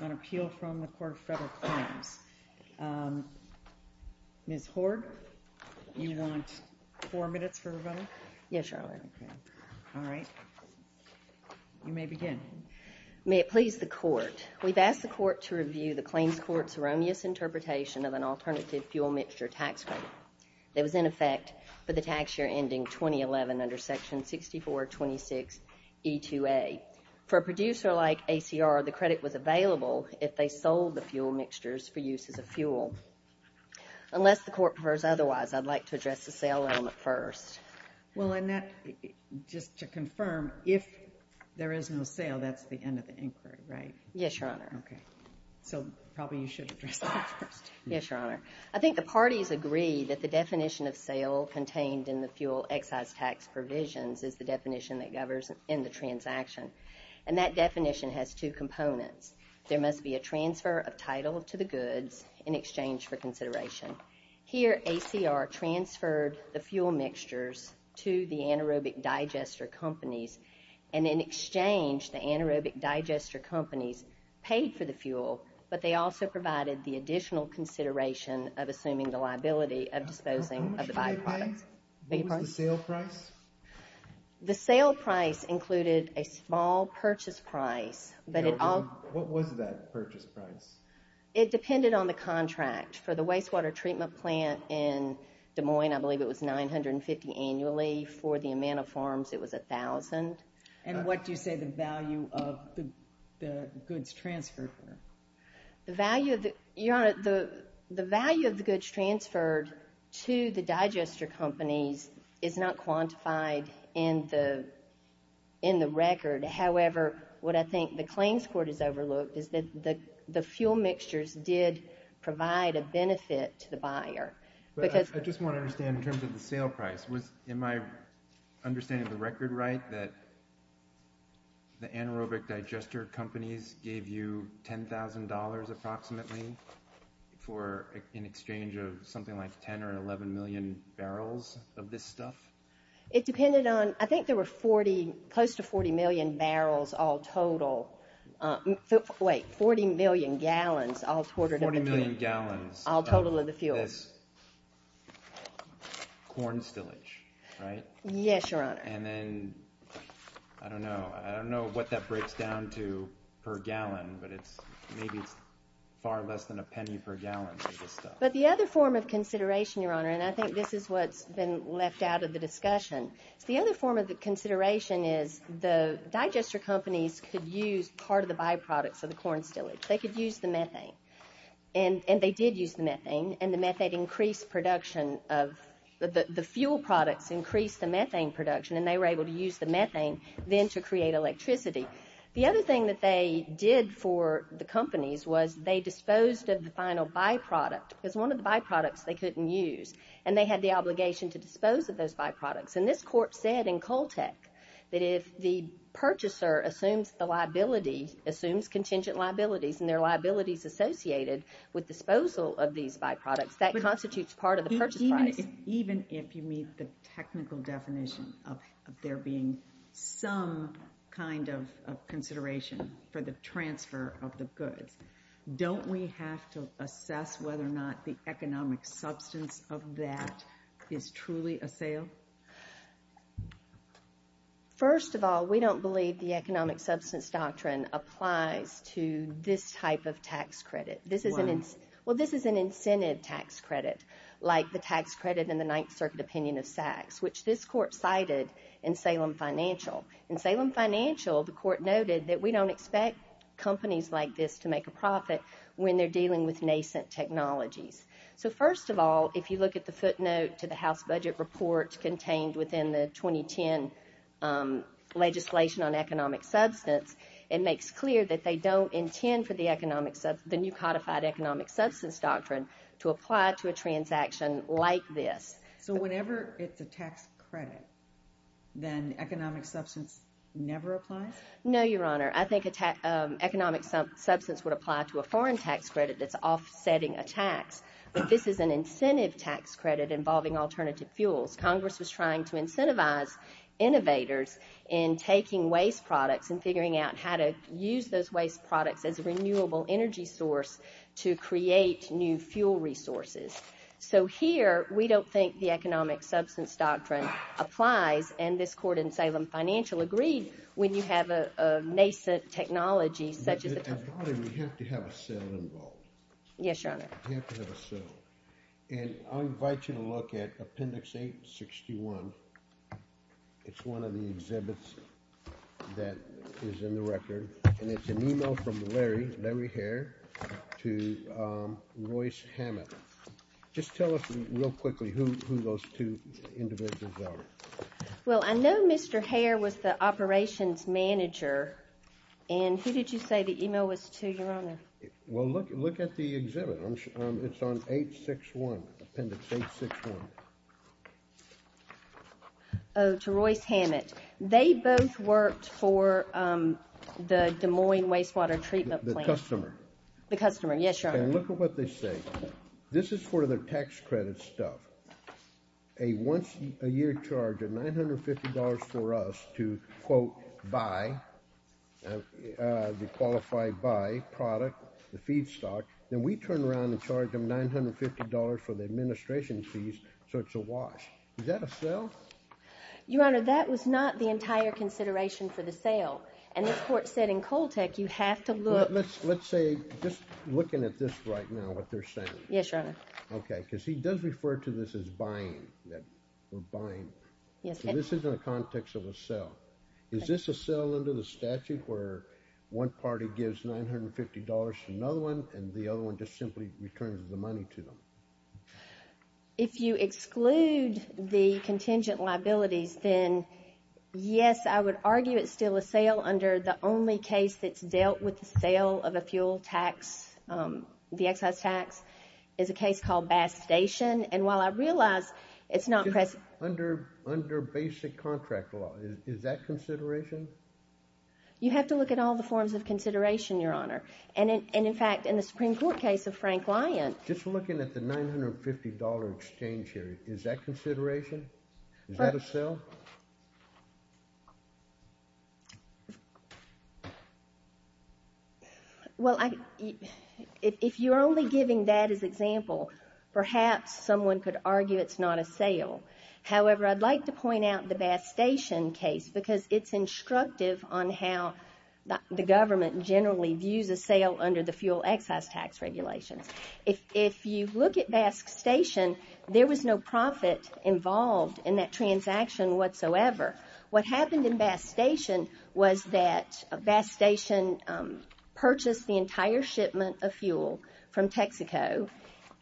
on appeal from the Court of Federal Claims. Ms. Hoard, you want four minutes for rebuttal? Yes, Your Honor. All right. You may begin. May it please the Court. We've asked the Court to review the claims court's erroneous interpretation of an alternative fuel mixture tax credit that was in effect for the tax year ending 2011 under Section 6426E2A. For a producer like ACR, the credit was available if they sold the fuel mixtures for use as a fuel. Unless the Court prefers otherwise, I'd like to address the sale element first. Well, Annette, just to confirm, if there is no sale, that's the end of the inquiry, right? Yes, Your Honor. Okay. So probably you should address that first. Yes, Your Honor. I think the parties agree that the definition of sale contained in the fuel excise tax provisions is the definition that governs in the transaction. And that definition has two components. There must be a transfer of title to the goods in exchange for consideration. Here, ACR transferred the fuel mixtures to the anaerobic digester companies. And in exchange, the anaerobic digester companies paid for the fuel, but they also provided the additional consideration of assuming the liability of disposing of the byproducts. How much did they pay? What was the sale price? The sale price included a small purchase price. What was that purchase price? It depended on the contract. For the wastewater treatment plant in Des Moines, I believe it was $950 annually. For the Amana farms, it was $1,000. And what do you say the value of the goods transferred were? The value of the goods transferred to the digester companies is not quantified in the record. However, what I think the claims court has overlooked is that the fuel mixtures did provide a benefit to the buyer. I just want to understand in terms of the sale price. Am I understanding the record right that the anaerobic digester companies gave you $10,000 approximately for an exchange of something like 10 or 11 million barrels of this stuff? It depended on, I think there were close to 40 million barrels all total. Wait, 40 million gallons all total of the fuel. 40 million gallons of this corn stillage, right? Yes, Your Honor. And then, I don't know. I don't know what that breaks down to per gallon, but maybe it's far less than a penny per gallon of this stuff. But the other form of consideration, Your Honor, and I think this is what's been left out of the discussion. The other form of consideration is the digester companies could use part of the byproducts of the corn stillage. They could use the methane, and they did use the methane, and the methane increased production of the fuel products increased the methane production, and they were able to use the methane then to create electricity. The other thing that they did for the companies was they disposed of the final byproduct. It was one of the byproducts they couldn't use, and they had the obligation to dispose of those byproducts. And this court said in Coltec that if the purchaser assumes the liability, assumes contingent liabilities, and there are liabilities associated with disposal of these byproducts, that constitutes part of the purchase price. Even if you meet the technical definition of there being some kind of consideration for the transfer of the goods, don't we have to assess whether or not the economic substance of that is truly a sale? First of all, we don't believe the economic substance doctrine applies to this type of tax credit. Well, this is an incentive tax credit like the tax credit in the Ninth Circuit opinion of Sachs, which this court cited in Salem Financial. In Salem Financial, the court noted that we don't expect companies like this to make a profit when they're dealing with nascent technologies. So first of all, if you look at the footnote to the House budget report contained within the 2010 legislation on economic substance, it makes clear that they don't intend for the new codified economic substance doctrine to apply to a transaction like this. So whenever it's a tax credit, then economic substance never applies? No, Your Honor. I think economic substance would apply to a foreign tax credit that's offsetting a tax. But this is an incentive tax credit involving alternative fuels. Congress was trying to incentivize innovators in taking waste products and figuring out how to use those waste products as a renewable energy source to create new fuel resources. So here, we don't think the economic substance doctrine applies, and this court in Salem Financial agreed, when you have a nascent technology such as a tax credit. Your Honor, we have to have a sale involved. Yes, Your Honor. We have to have a sale. And I'll invite you to look at Appendix 861. It's one of the exhibits that is in the record, and it's an email from Larry Hare to Royce Hammett. Just tell us real quickly who those two individuals are. Well, I know Mr. Hare was the operations manager, and who did you say the email was to, Your Honor? Well, look at the exhibit. It's on 861, Appendix 861. Oh, to Royce Hammett. They both worked for the Des Moines Wastewater Treatment Plant. The customer. The customer, yes, Your Honor. And look at what they say. This is for the tax credit stuff. A once-a-year charge of $950 for us to, quote, buy the qualified buy product, the feedstock. Then we turn around and charge them $950 for the administration fees, so it's a wash. Is that a sale? Your Honor, that was not the entire consideration for the sale, and this court said in Coltec you have to look. Let's say, just looking at this right now, what they're saying. Yes, Your Honor. Okay, because he does refer to this as buying, that we're buying. Yes. So this is in the context of a sale. Is this a sale under the statute where one party gives $950 to another one, and the other one just simply returns the money to them? If you exclude the contingent liabilities, then yes, I would argue it's still a sale under the only case that's dealt with the sale of a fuel tax. The excise tax is a case called Bass Station. And while I realize it's not present. Under basic contract law, is that consideration? You have to look at all the forms of consideration, Your Honor. And, in fact, in the Supreme Court case of Frank Lyon. Just looking at the $950 exchange here, is that consideration? Is that a sale? Well, if you're only giving that as example, perhaps someone could argue it's not a sale. However, I'd like to point out the Bass Station case because it's instructive on how the government generally views a sale under the fuel excise tax regulations. If you look at Bass Station, there was no profit involved in that transaction whatsoever. What happened in Bass Station was that Bass Station purchased the entire shipment of fuel from Texaco.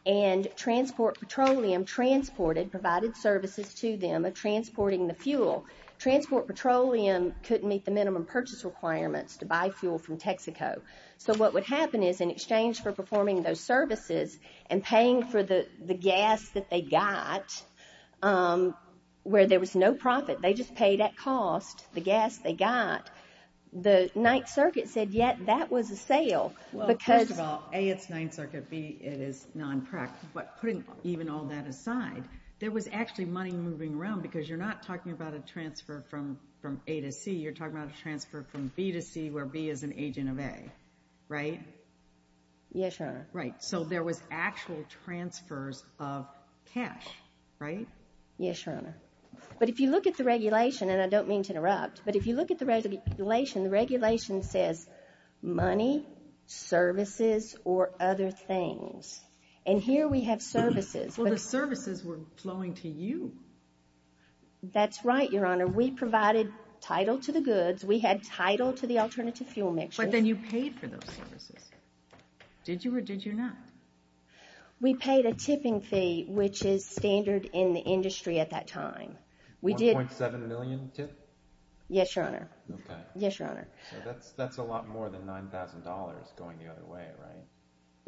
And Transport Petroleum transported, provided services to them of transporting the fuel. Transport Petroleum couldn't meet the minimum purchase requirements to buy fuel from Texaco. So what would happen is, in exchange for performing those services and paying for the gas that they got, where there was no profit. They just paid at cost the gas they got. The Ninth Circuit said, yeah, that was a sale. Well, first of all, A, it's Ninth Circuit. B, it is non-prec. But putting even all that aside, there was actually money moving around because you're not talking about a transfer from A to C. You're talking about a transfer from B to C where B is an agent of A, right? Yes, Your Honor. Right. So there was actual transfers of cash, right? Yes, Your Honor. But if you look at the regulation, and I don't mean to interrupt, but if you look at the regulation, the regulation says money, services, or other things. And here we have services. Well, the services were flowing to you. That's right, Your Honor. We provided title to the goods. We had title to the alternative fuel mixture. But then you paid for those services. Did you or did you not? We paid a tipping fee, which is standard in the industry at that time. 1.7 million tip? Yes, Your Honor. Okay. Yes, Your Honor. So that's a lot more than $9,000 going the other way, right?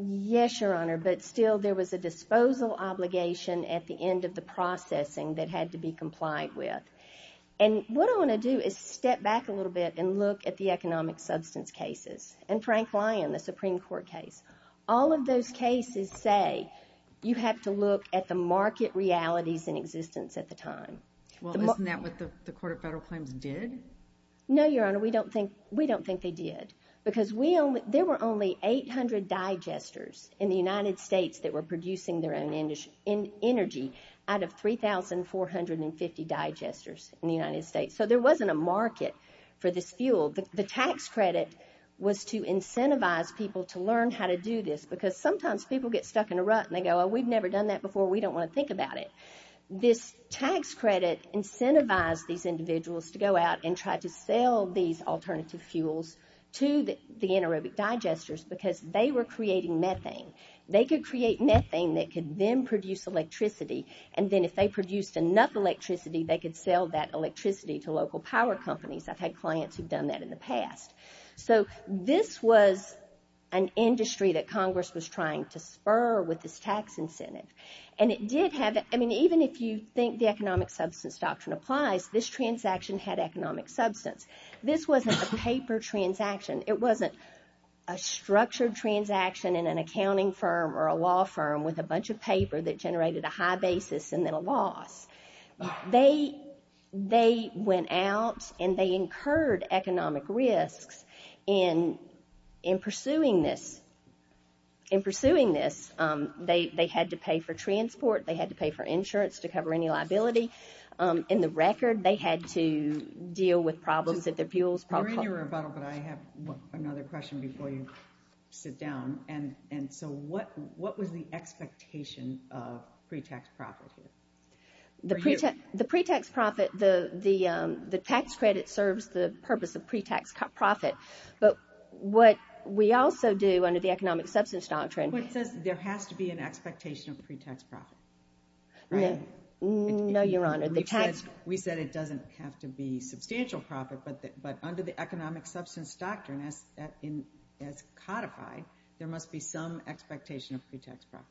Yes, Your Honor. But still, there was a disposal obligation at the end of the processing that had to be complied with. And what I want to do is step back a little bit and look at the economic substance cases and Frank Lyon, the Supreme Court case. All of those cases say you have to look at the market realities in existence at the time. Well, isn't that what the Court of Federal Claims did? No, Your Honor. We don't think they did because there were only 800 digesters in the United States that were producing their own energy out of 3,450 digesters in the United States. So there wasn't a market for this fuel. The tax credit was to incentivize people to learn how to do this because sometimes people get stuck in a rut and they go, oh, we've never done that before, we don't want to think about it. This tax credit incentivized these individuals to go out and try to sell these alternative fuels to the anaerobic digesters because they were creating methane. They could create methane that could then produce electricity and then if they produced enough electricity, they could sell that electricity to local power companies. I've had clients who've done that in the past. So this was an industry that Congress was trying to spur with this tax incentive. Even if you think the economic substance doctrine applies, this transaction had economic substance. This wasn't a paper transaction. It wasn't a structured transaction in an accounting firm or a law firm with a bunch of paper that generated a high basis and then a loss. They went out and they incurred economic risks in pursuing this. In pursuing this, they had to pay for transport, they had to pay for insurance to cover any liability. In the record, they had to deal with problems that their fuels probably caused. You're in your rebuttal but I have another question before you sit down. What was the expectation of pre-tax profit here? The pre-tax profit, the tax credit serves the purpose of pre-tax profit. But what we also do under the economic substance doctrine… It says there has to be an expectation of pre-tax profit. No, Your Honor. We said it doesn't have to be substantial profit, but under the economic substance doctrine as codified, there must be some expectation of pre-tax profit.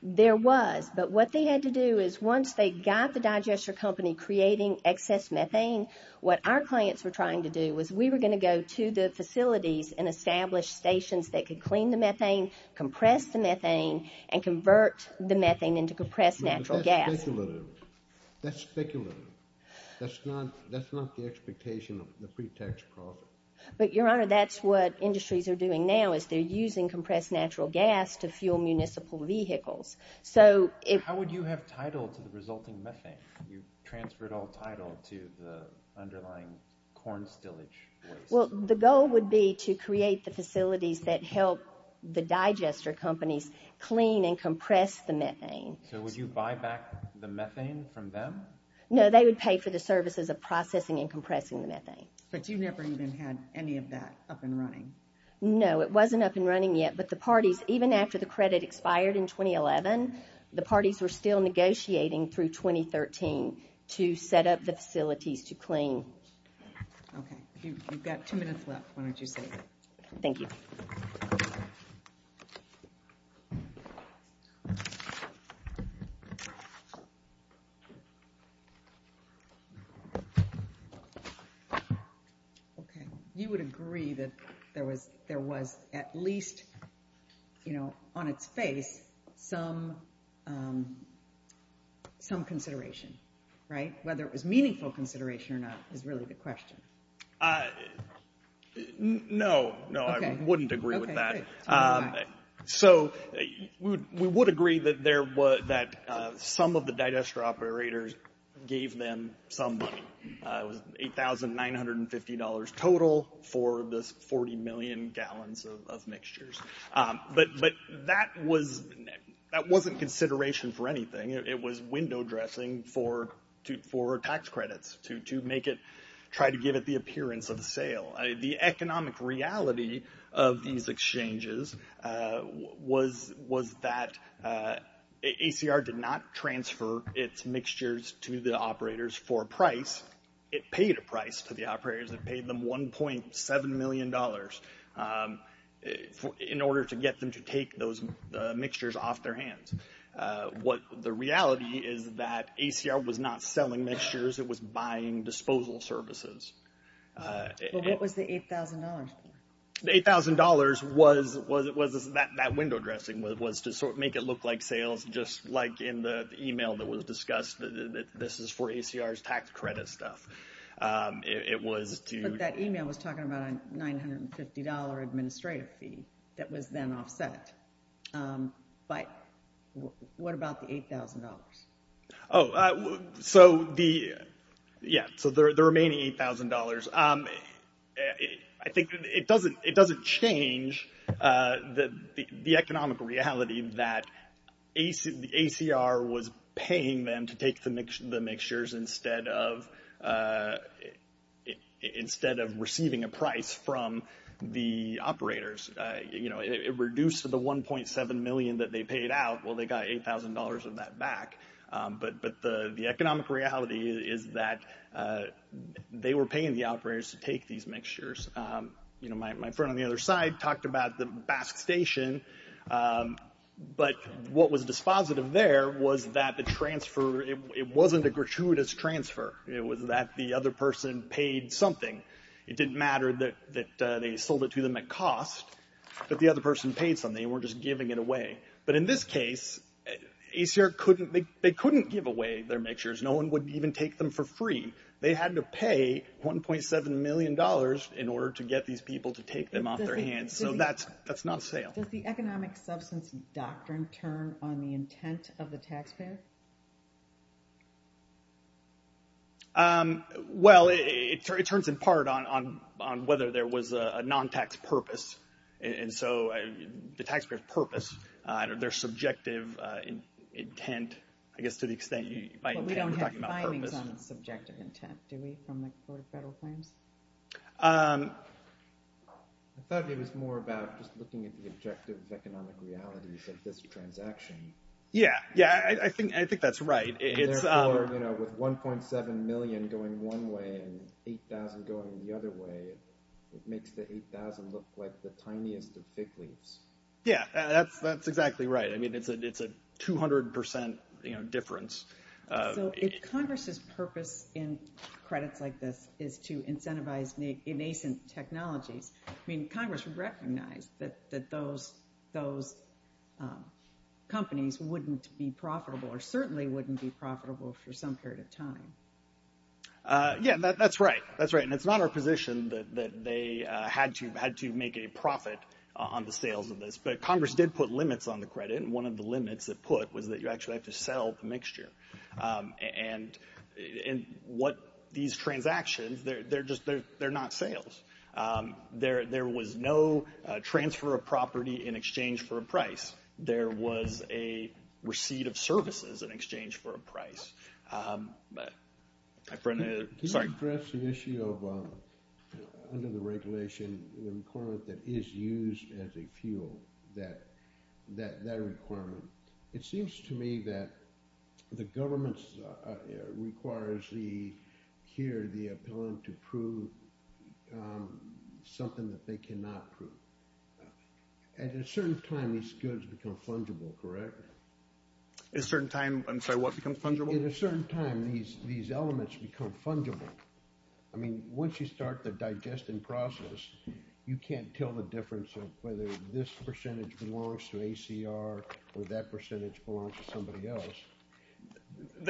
There was, but what they had to do is once they got the digester company creating excess methane, what our clients were trying to do was we were going to go to the facilities and establish stations that could clean the methane, compress the methane, and convert the methane into compressed natural gas. That's speculative. That's speculative. That's not the expectation of the pre-tax profit. But, Your Honor, that's what industries are doing now is they're using compressed natural gas to fuel municipal vehicles. How would you have title to the resulting methane? You transferred all title to the underlying corn stillage waste. Well, the goal would be to create the facilities that help the digester companies clean and compress the methane. So would you buy back the methane from them? No, they would pay for the services of processing and compressing the methane. But you never even had any of that up and running. No, it wasn't up and running yet, but the parties, even after the credit expired in 2011, the parties were still negotiating through 2013 to set up the facilities to clean. Okay. You've got two minutes left. Why don't you say it? Thank you. Okay. You would agree that there was at least, you know, on its face some consideration, right? Whether it was meaningful consideration or not is really the question. No. No, I wouldn't agree with that. So we would agree that some of the digester operators gave them some money. It was $8,950 total for the 40 million gallons of mixtures. But that wasn't consideration for anything. It was window dressing for tax credits to try to give it the appearance of a sale. The economic reality of these exchanges was that ACR did not transfer its mixtures to the operators for a price. It paid a price to the operators. It paid them $1.7 million in order to get them to take those mixtures off their hands. The reality is that ACR was not selling mixtures. It was buying disposal services. But what was the $8,000 for? The $8,000 was that window dressing was to sort of make it look like sales, just like in the email that was discussed that this is for ACR's tax credit stuff. But that email was talking about a $950 administrative fee that was then offset. But what about the $8,000? Oh, so the remaining $8,000, I think it doesn't change the economic reality that ACR was paying them to take the mixtures instead of receiving a price from the operators. It reduced the $1.7 million that they paid out. Well, they got $8,000 of that back. But the economic reality is that they were paying the operators to take these mixtures. My friend on the other side talked about the Basque Station. But what was dispositive there was that the transfer, it wasn't a gratuitous transfer. It was that the other person paid something. It didn't matter that they sold it to them at cost, but the other person paid something. They weren't just giving it away. But in this case, ACR couldn't, they couldn't give away their mixtures. No one would even take them for free. They had to pay $1.7 million in order to get these people to take them off their hands. So that's not a sale. Does the economic substance doctrine turn on the intent of the taxpayer? Well, it turns in part on whether there was a non-tax purpose. And so the taxpayer's purpose, their subjective intent, I guess to the extent, by intent we're talking about purpose. But we don't have findings on subjective intent, do we, from the Court of Federal Claims? I thought it was more about just looking at the objective economic realities of this transaction. Yeah, yeah, I think that's right. And therefore, you know, with $1.7 million going one way and $8,000 going the other way, it makes the $8,000 look like the tiniest of fig leaves. Yeah, that's exactly right. I mean, it's a 200% difference. So if Congress's purpose in credits like this is to incentivize innocent technologies, I mean, Congress would recognize that those companies wouldn't be profitable or certainly wouldn't be profitable for some period of time. Yeah, that's right, that's right. And it's not our position that they had to make a profit on the sales of this. But Congress did put limits on the credit, and one of the limits it put was that you actually have to sell the mixture. And what these transactions, they're not sales. There was no transfer of property in exchange for a price. There was a receipt of services in exchange for a price. Can you address the issue of, under the regulation, the requirement that is used as a fuel, that requirement? It seems to me that the government requires here the appellant to prove something that they cannot prove. And at a certain time, these goods become fungible, correct? At a certain time, I'm sorry, what becomes fungible? At a certain time, these elements become fungible. I mean, once you start the digesting process, you can't tell the difference of whether this percentage belongs to ACR or that percentage belongs to somebody else.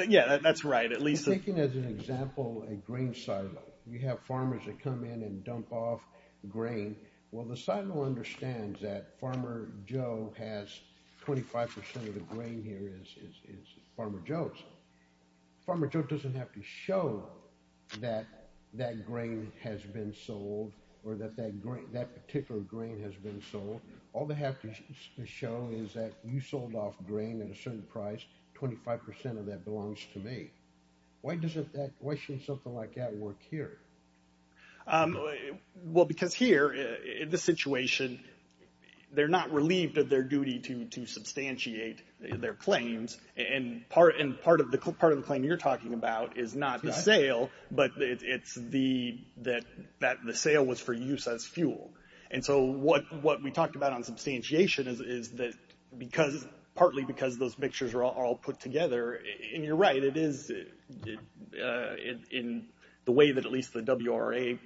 Yeah, that's right. I'm thinking as an example, a grain silo. You have farmers that come in and dump off grain. Well, the silo understands that Farmer Joe has 25% of the grain here, is Farmer Joe's. Farmer Joe doesn't have to show that that grain has been sold or that that particular grain has been sold. All they have to show is that you sold off grain at a certain price, 25% of that belongs to me. Why shouldn't something like that work here? Well, because here, in this situation, they're not relieved of their duty to substantiate their claims, but it's that the sale was for use as fuel. And so what we talked about on substantiation is that, partly because those mixtures are all put together, and you're right, it is, in the way that at least the WRA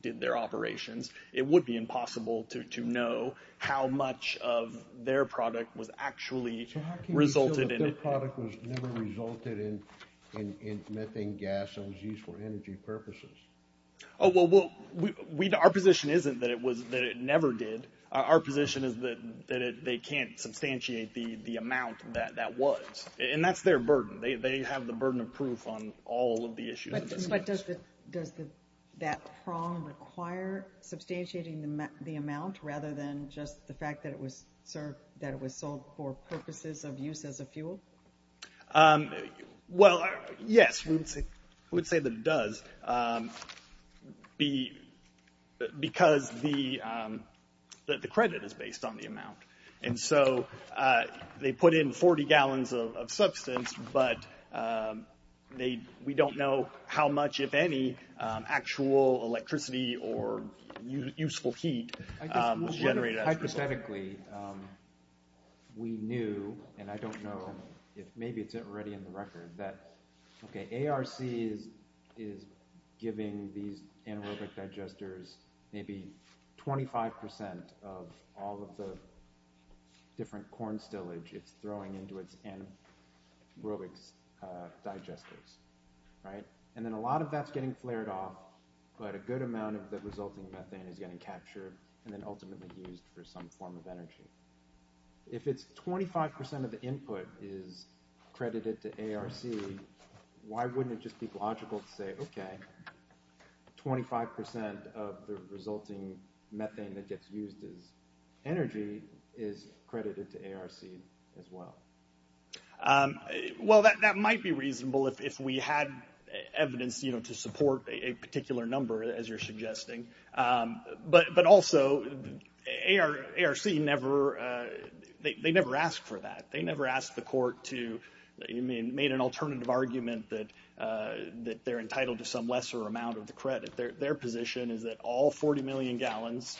did their operations, it would be impossible to know how much of their product was actually resulted in it. Oh, well, our position isn't that it never did. Our position is that they can't substantiate the amount that was. And that's their burden. They have the burden of proof on all of the issues. But does that prong require substantiating the amount rather than just the fact that it was sold for purposes of use as a fuel? Well, yes, we would say that it does, because the credit is based on the amount. And so they put in 40 gallons of substance, but we don't know how much, if any, actual electricity or useful heat was generated. Hypothetically, we knew, and I don't know if maybe it's already in the record, that ARC is giving these anaerobic digesters maybe 25% of all of the different corn stillage it's throwing into its anaerobic digesters. And then a lot of that's getting flared off, but a good amount of the resulting methane is getting captured and then ultimately used for some form of energy. If it's 25% of the input is credited to ARC, why wouldn't it just be logical to say, okay, 25% of the resulting methane that gets used as energy is credited to ARC as well? Well, that might be reasonable if we had evidence to support a particular number, as you're suggesting. But also, ARC never asked for that. They never asked the court to, made an alternative argument that they're entitled to some lesser amount of the credit. Their position is that all 40 million gallons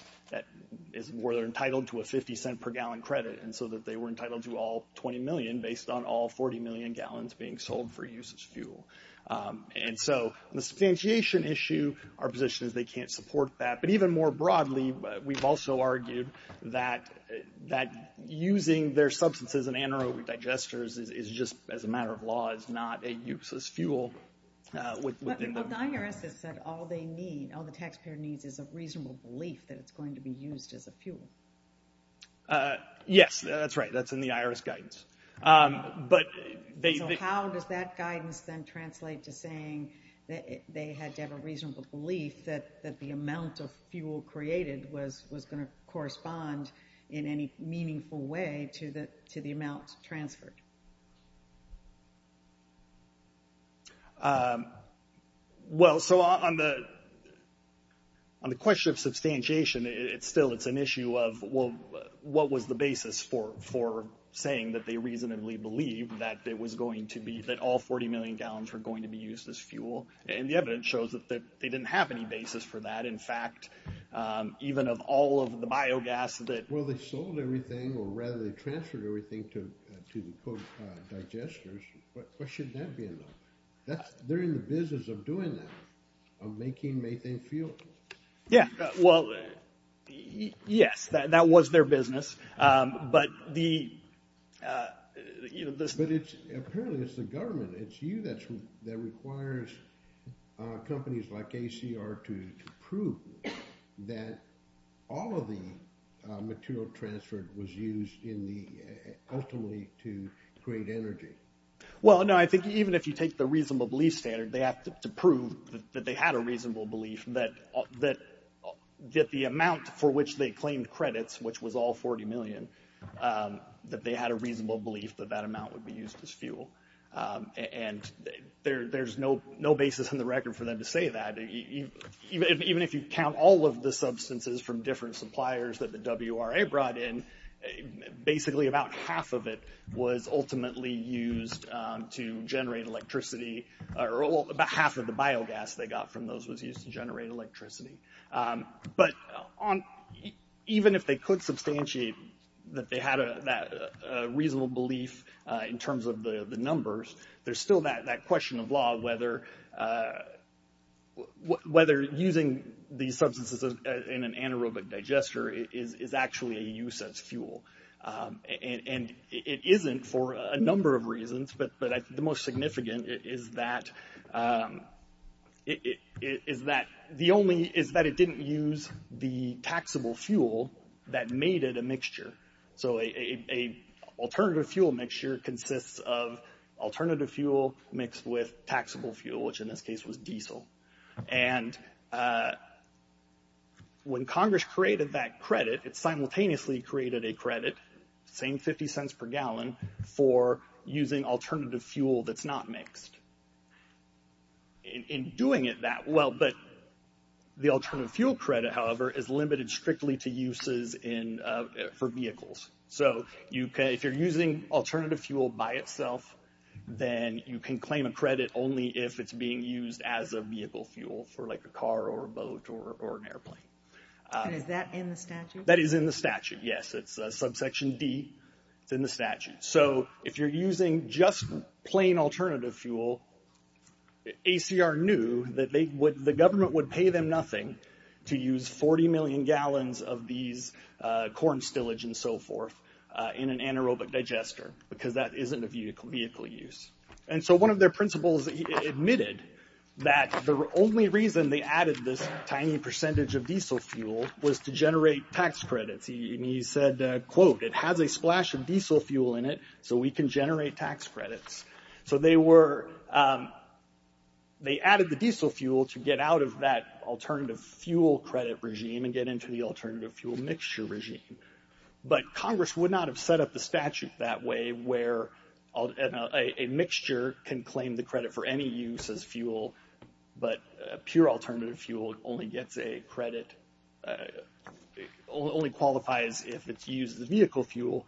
were entitled to a 50 cent per gallon credit, and so that they were entitled to all 20 million based on all 40 million gallons being sold for use as fuel. And so the substantiation issue, our position is they can't support that. But even more broadly, we've also argued that using their substances in anaerobic digesters is just, as a matter of law, is not a useless fuel. Well, the IRS has said all they need, all the taxpayer needs is a reasonable belief that it's going to be used as a fuel. Yes, that's right, that's in the IRS guidance. So how does that guidance then translate to saying that they had to have a reasonable belief that the amount of fuel created was going to correspond in any meaningful way to the amount transferred? Well, so on the question of substantiation, it's still an issue of what was the basis for saying that they reasonably believed that it was going to be, that all 40 million gallons were going to be used as fuel. And the evidence shows that they didn't have any basis for that. In fact, even of all of the biogas that... Well, they sold everything, or rather, they transferred everything to the co-digesters. Why shouldn't that be enough? They're in the business of doing that, of making methane fuel. Yeah, well, yes, that was their business. But the... But apparently it's the government, it's you, that requires companies like ACR to prove that all of the material transferred was used ultimately to create energy. Well, no, I think even if you take the reasonable belief standard, they have to prove that they had a reasonable belief that the amount for which they claimed credits, which was all 40 million, that they had a reasonable belief that that amount would be used as fuel. And there's no basis in the record for them to say that. Even if you count all of the substances from different suppliers that the WRA brought in, basically about half of it was ultimately used to generate electricity, or about half of the biogas they got from those was used to generate electricity. But even if they could substantiate that they had that reasonable belief in terms of the numbers, there's still that question of law of whether using these substances in an anaerobic digester is actually a use as fuel. And it isn't for a number of reasons, but the most significant is that... is that it didn't use the taxable fuel that made it a mixture. So an alternative fuel mixture consists of alternative fuel mixed with taxable fuel, which in this case was diesel. And when Congress created that credit, it simultaneously created a credit, same 50 cents per gallon, for using alternative fuel that's not mixed. In doing it that well, but the alternative fuel credit, however, is limited strictly to uses for vehicles. So if you're using alternative fuel by itself, then you can claim a credit only if it's being used as a vehicle fuel for like a car or a boat or an airplane. And is that in the statute? That is in the statute, yes. It's subsection D, it's in the statute. So if you're using just plain alternative fuel, ACR knew that the government would pay them nothing to use 40 million gallons of these corn stillage and so forth in an anaerobic digester because that isn't a vehicle use. And so one of their principals admitted that the only reason they added this tiny percentage of diesel fuel was to generate tax credits. And he said, quote, it has a splash of diesel fuel in it, so we can generate tax credits. So they added the diesel fuel to get out of that alternative fuel credit regime and get into the alternative fuel mixture regime. But Congress would not have set up the statute that way where a mixture can claim the credit for any use as fuel, but pure alternative fuel only gets a credit, only qualifies if it's used as vehicle fuel.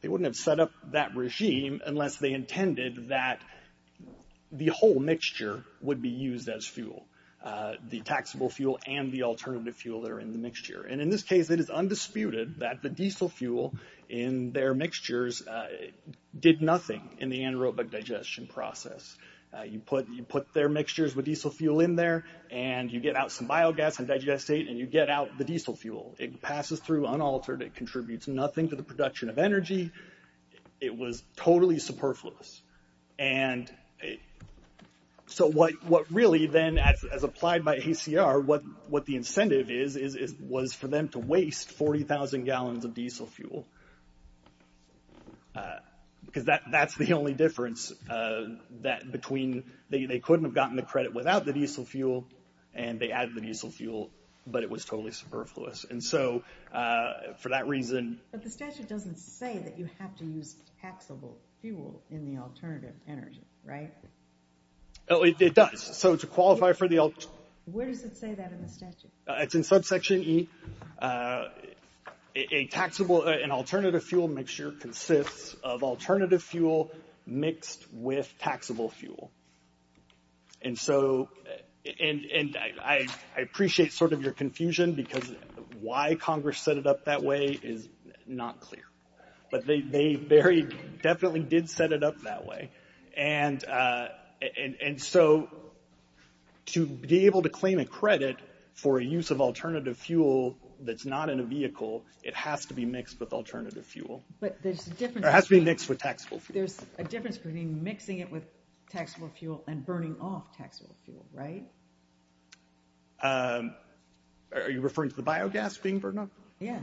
They wouldn't have set up that regime unless they intended that the whole mixture would be used as fuel, the taxable fuel and the alternative fuel that are in the mixture. And in this case, it is undisputed that the diesel fuel in their mixtures did nothing in the anaerobic digestion process. You put their mixtures with diesel fuel in there and you get out some biogas and digestate and you get out the diesel fuel. It passes through unaltered. It contributes nothing to the production of energy. It was totally superfluous. And so what really then, as applied by ACR, what the incentive is, was for them to waste 40,000 gallons of diesel fuel. Because that's the only difference between they couldn't have gotten the credit without the diesel fuel and they added the diesel fuel, but it was totally superfluous. And so for that reason... But the statute doesn't say that you have to use taxable fuel in the alternative energy, right? Oh, it does. So to qualify for the... Where does it say that in the statute? It's in subsection E. An alternative fuel mixture consists of alternative fuel mixed with taxable fuel. And so... And I appreciate sort of your confusion because why Congress set it up that way is not clear. But they very definitely did set it up that way. And so to be able to claim a credit for a use of alternative fuel that's not in a vehicle, it has to be mixed with alternative fuel. It has to be mixed with taxable fuel. There's a difference between mixing it with taxable fuel and burning off taxable fuel, right? Are you referring to the biogas being burned off? Yeah.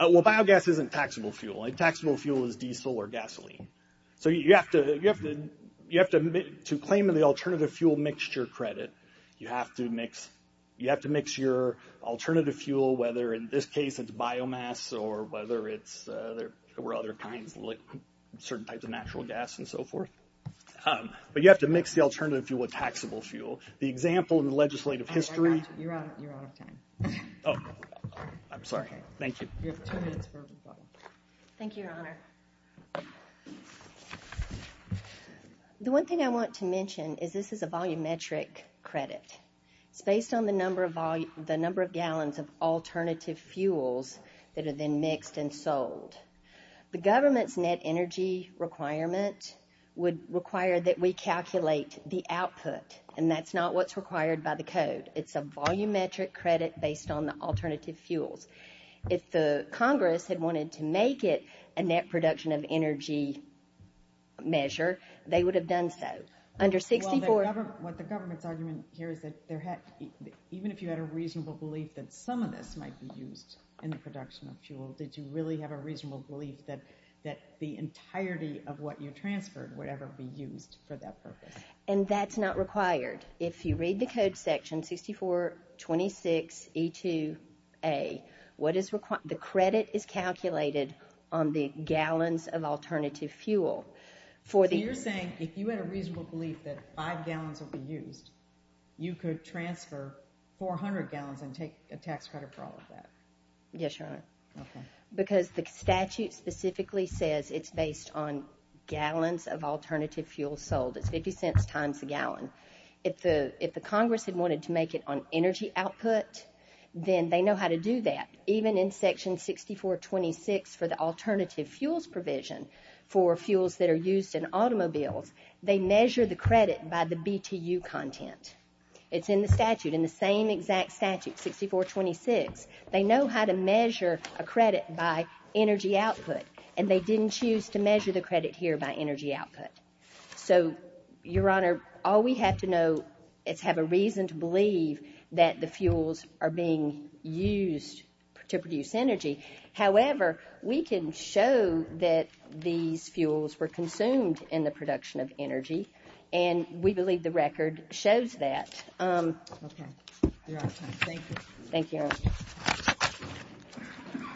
Well, biogas isn't taxable fuel. Taxable fuel is diesel or gasoline. So you have to... To claim the alternative fuel mixture credit, you have to mix your alternative fuel, whether in this case it's biomass or whether it's... There were other kinds, like certain types of natural gas and so forth. But you have to mix the alternative fuel with taxable fuel. The example in the legislative history... You're out of time. Oh, I'm sorry. Thank you. You have two minutes for a rebuttal. Thank you, Your Honor. The one thing I want to mention is this is a volumetric credit. It's based on the number of gallons of alternative fuels that are then mixed and sold. The government's net energy requirement would require that we calculate the output, and that's not what's required by the code. It's a volumetric credit based on the alternative fuels. If the Congress had wanted to make it a net production of energy measure, they would have done so. Under 64... Well, what the government's argument here is that even if you had a reasonable belief that some of this might be used in the production of fuel, did you really have a reasonable belief that the entirety of what you transferred would ever be used for that purpose? And that's not required. If you read the code section 6426E2A, the credit is calculated on the gallons of alternative fuel. So you're saying if you had a reasonable belief that five gallons would be used, you could transfer 400 gallons and take a tax credit for all of that? Yes, Your Honor. Okay. Because the statute specifically says it's based on gallons of alternative fuel sold. It's 50 cents times a gallon. If the Congress had wanted to make it on energy output, then they know how to do that. Even in section 6426 for the alternative fuels provision for fuels that are used in automobiles, they measure the credit by the BTU content. It's in the statute, in the same exact statute, 6426. They know how to measure a credit by energy output, and they didn't choose to measure the credit here by energy output. So, Your Honor, all we have to know is have a reason to believe that the fuels are being used to produce energy. were consumed in the production of energy, and we believe the record shows that. Okay. Your Honor, thank you. Thank you, Your Honor.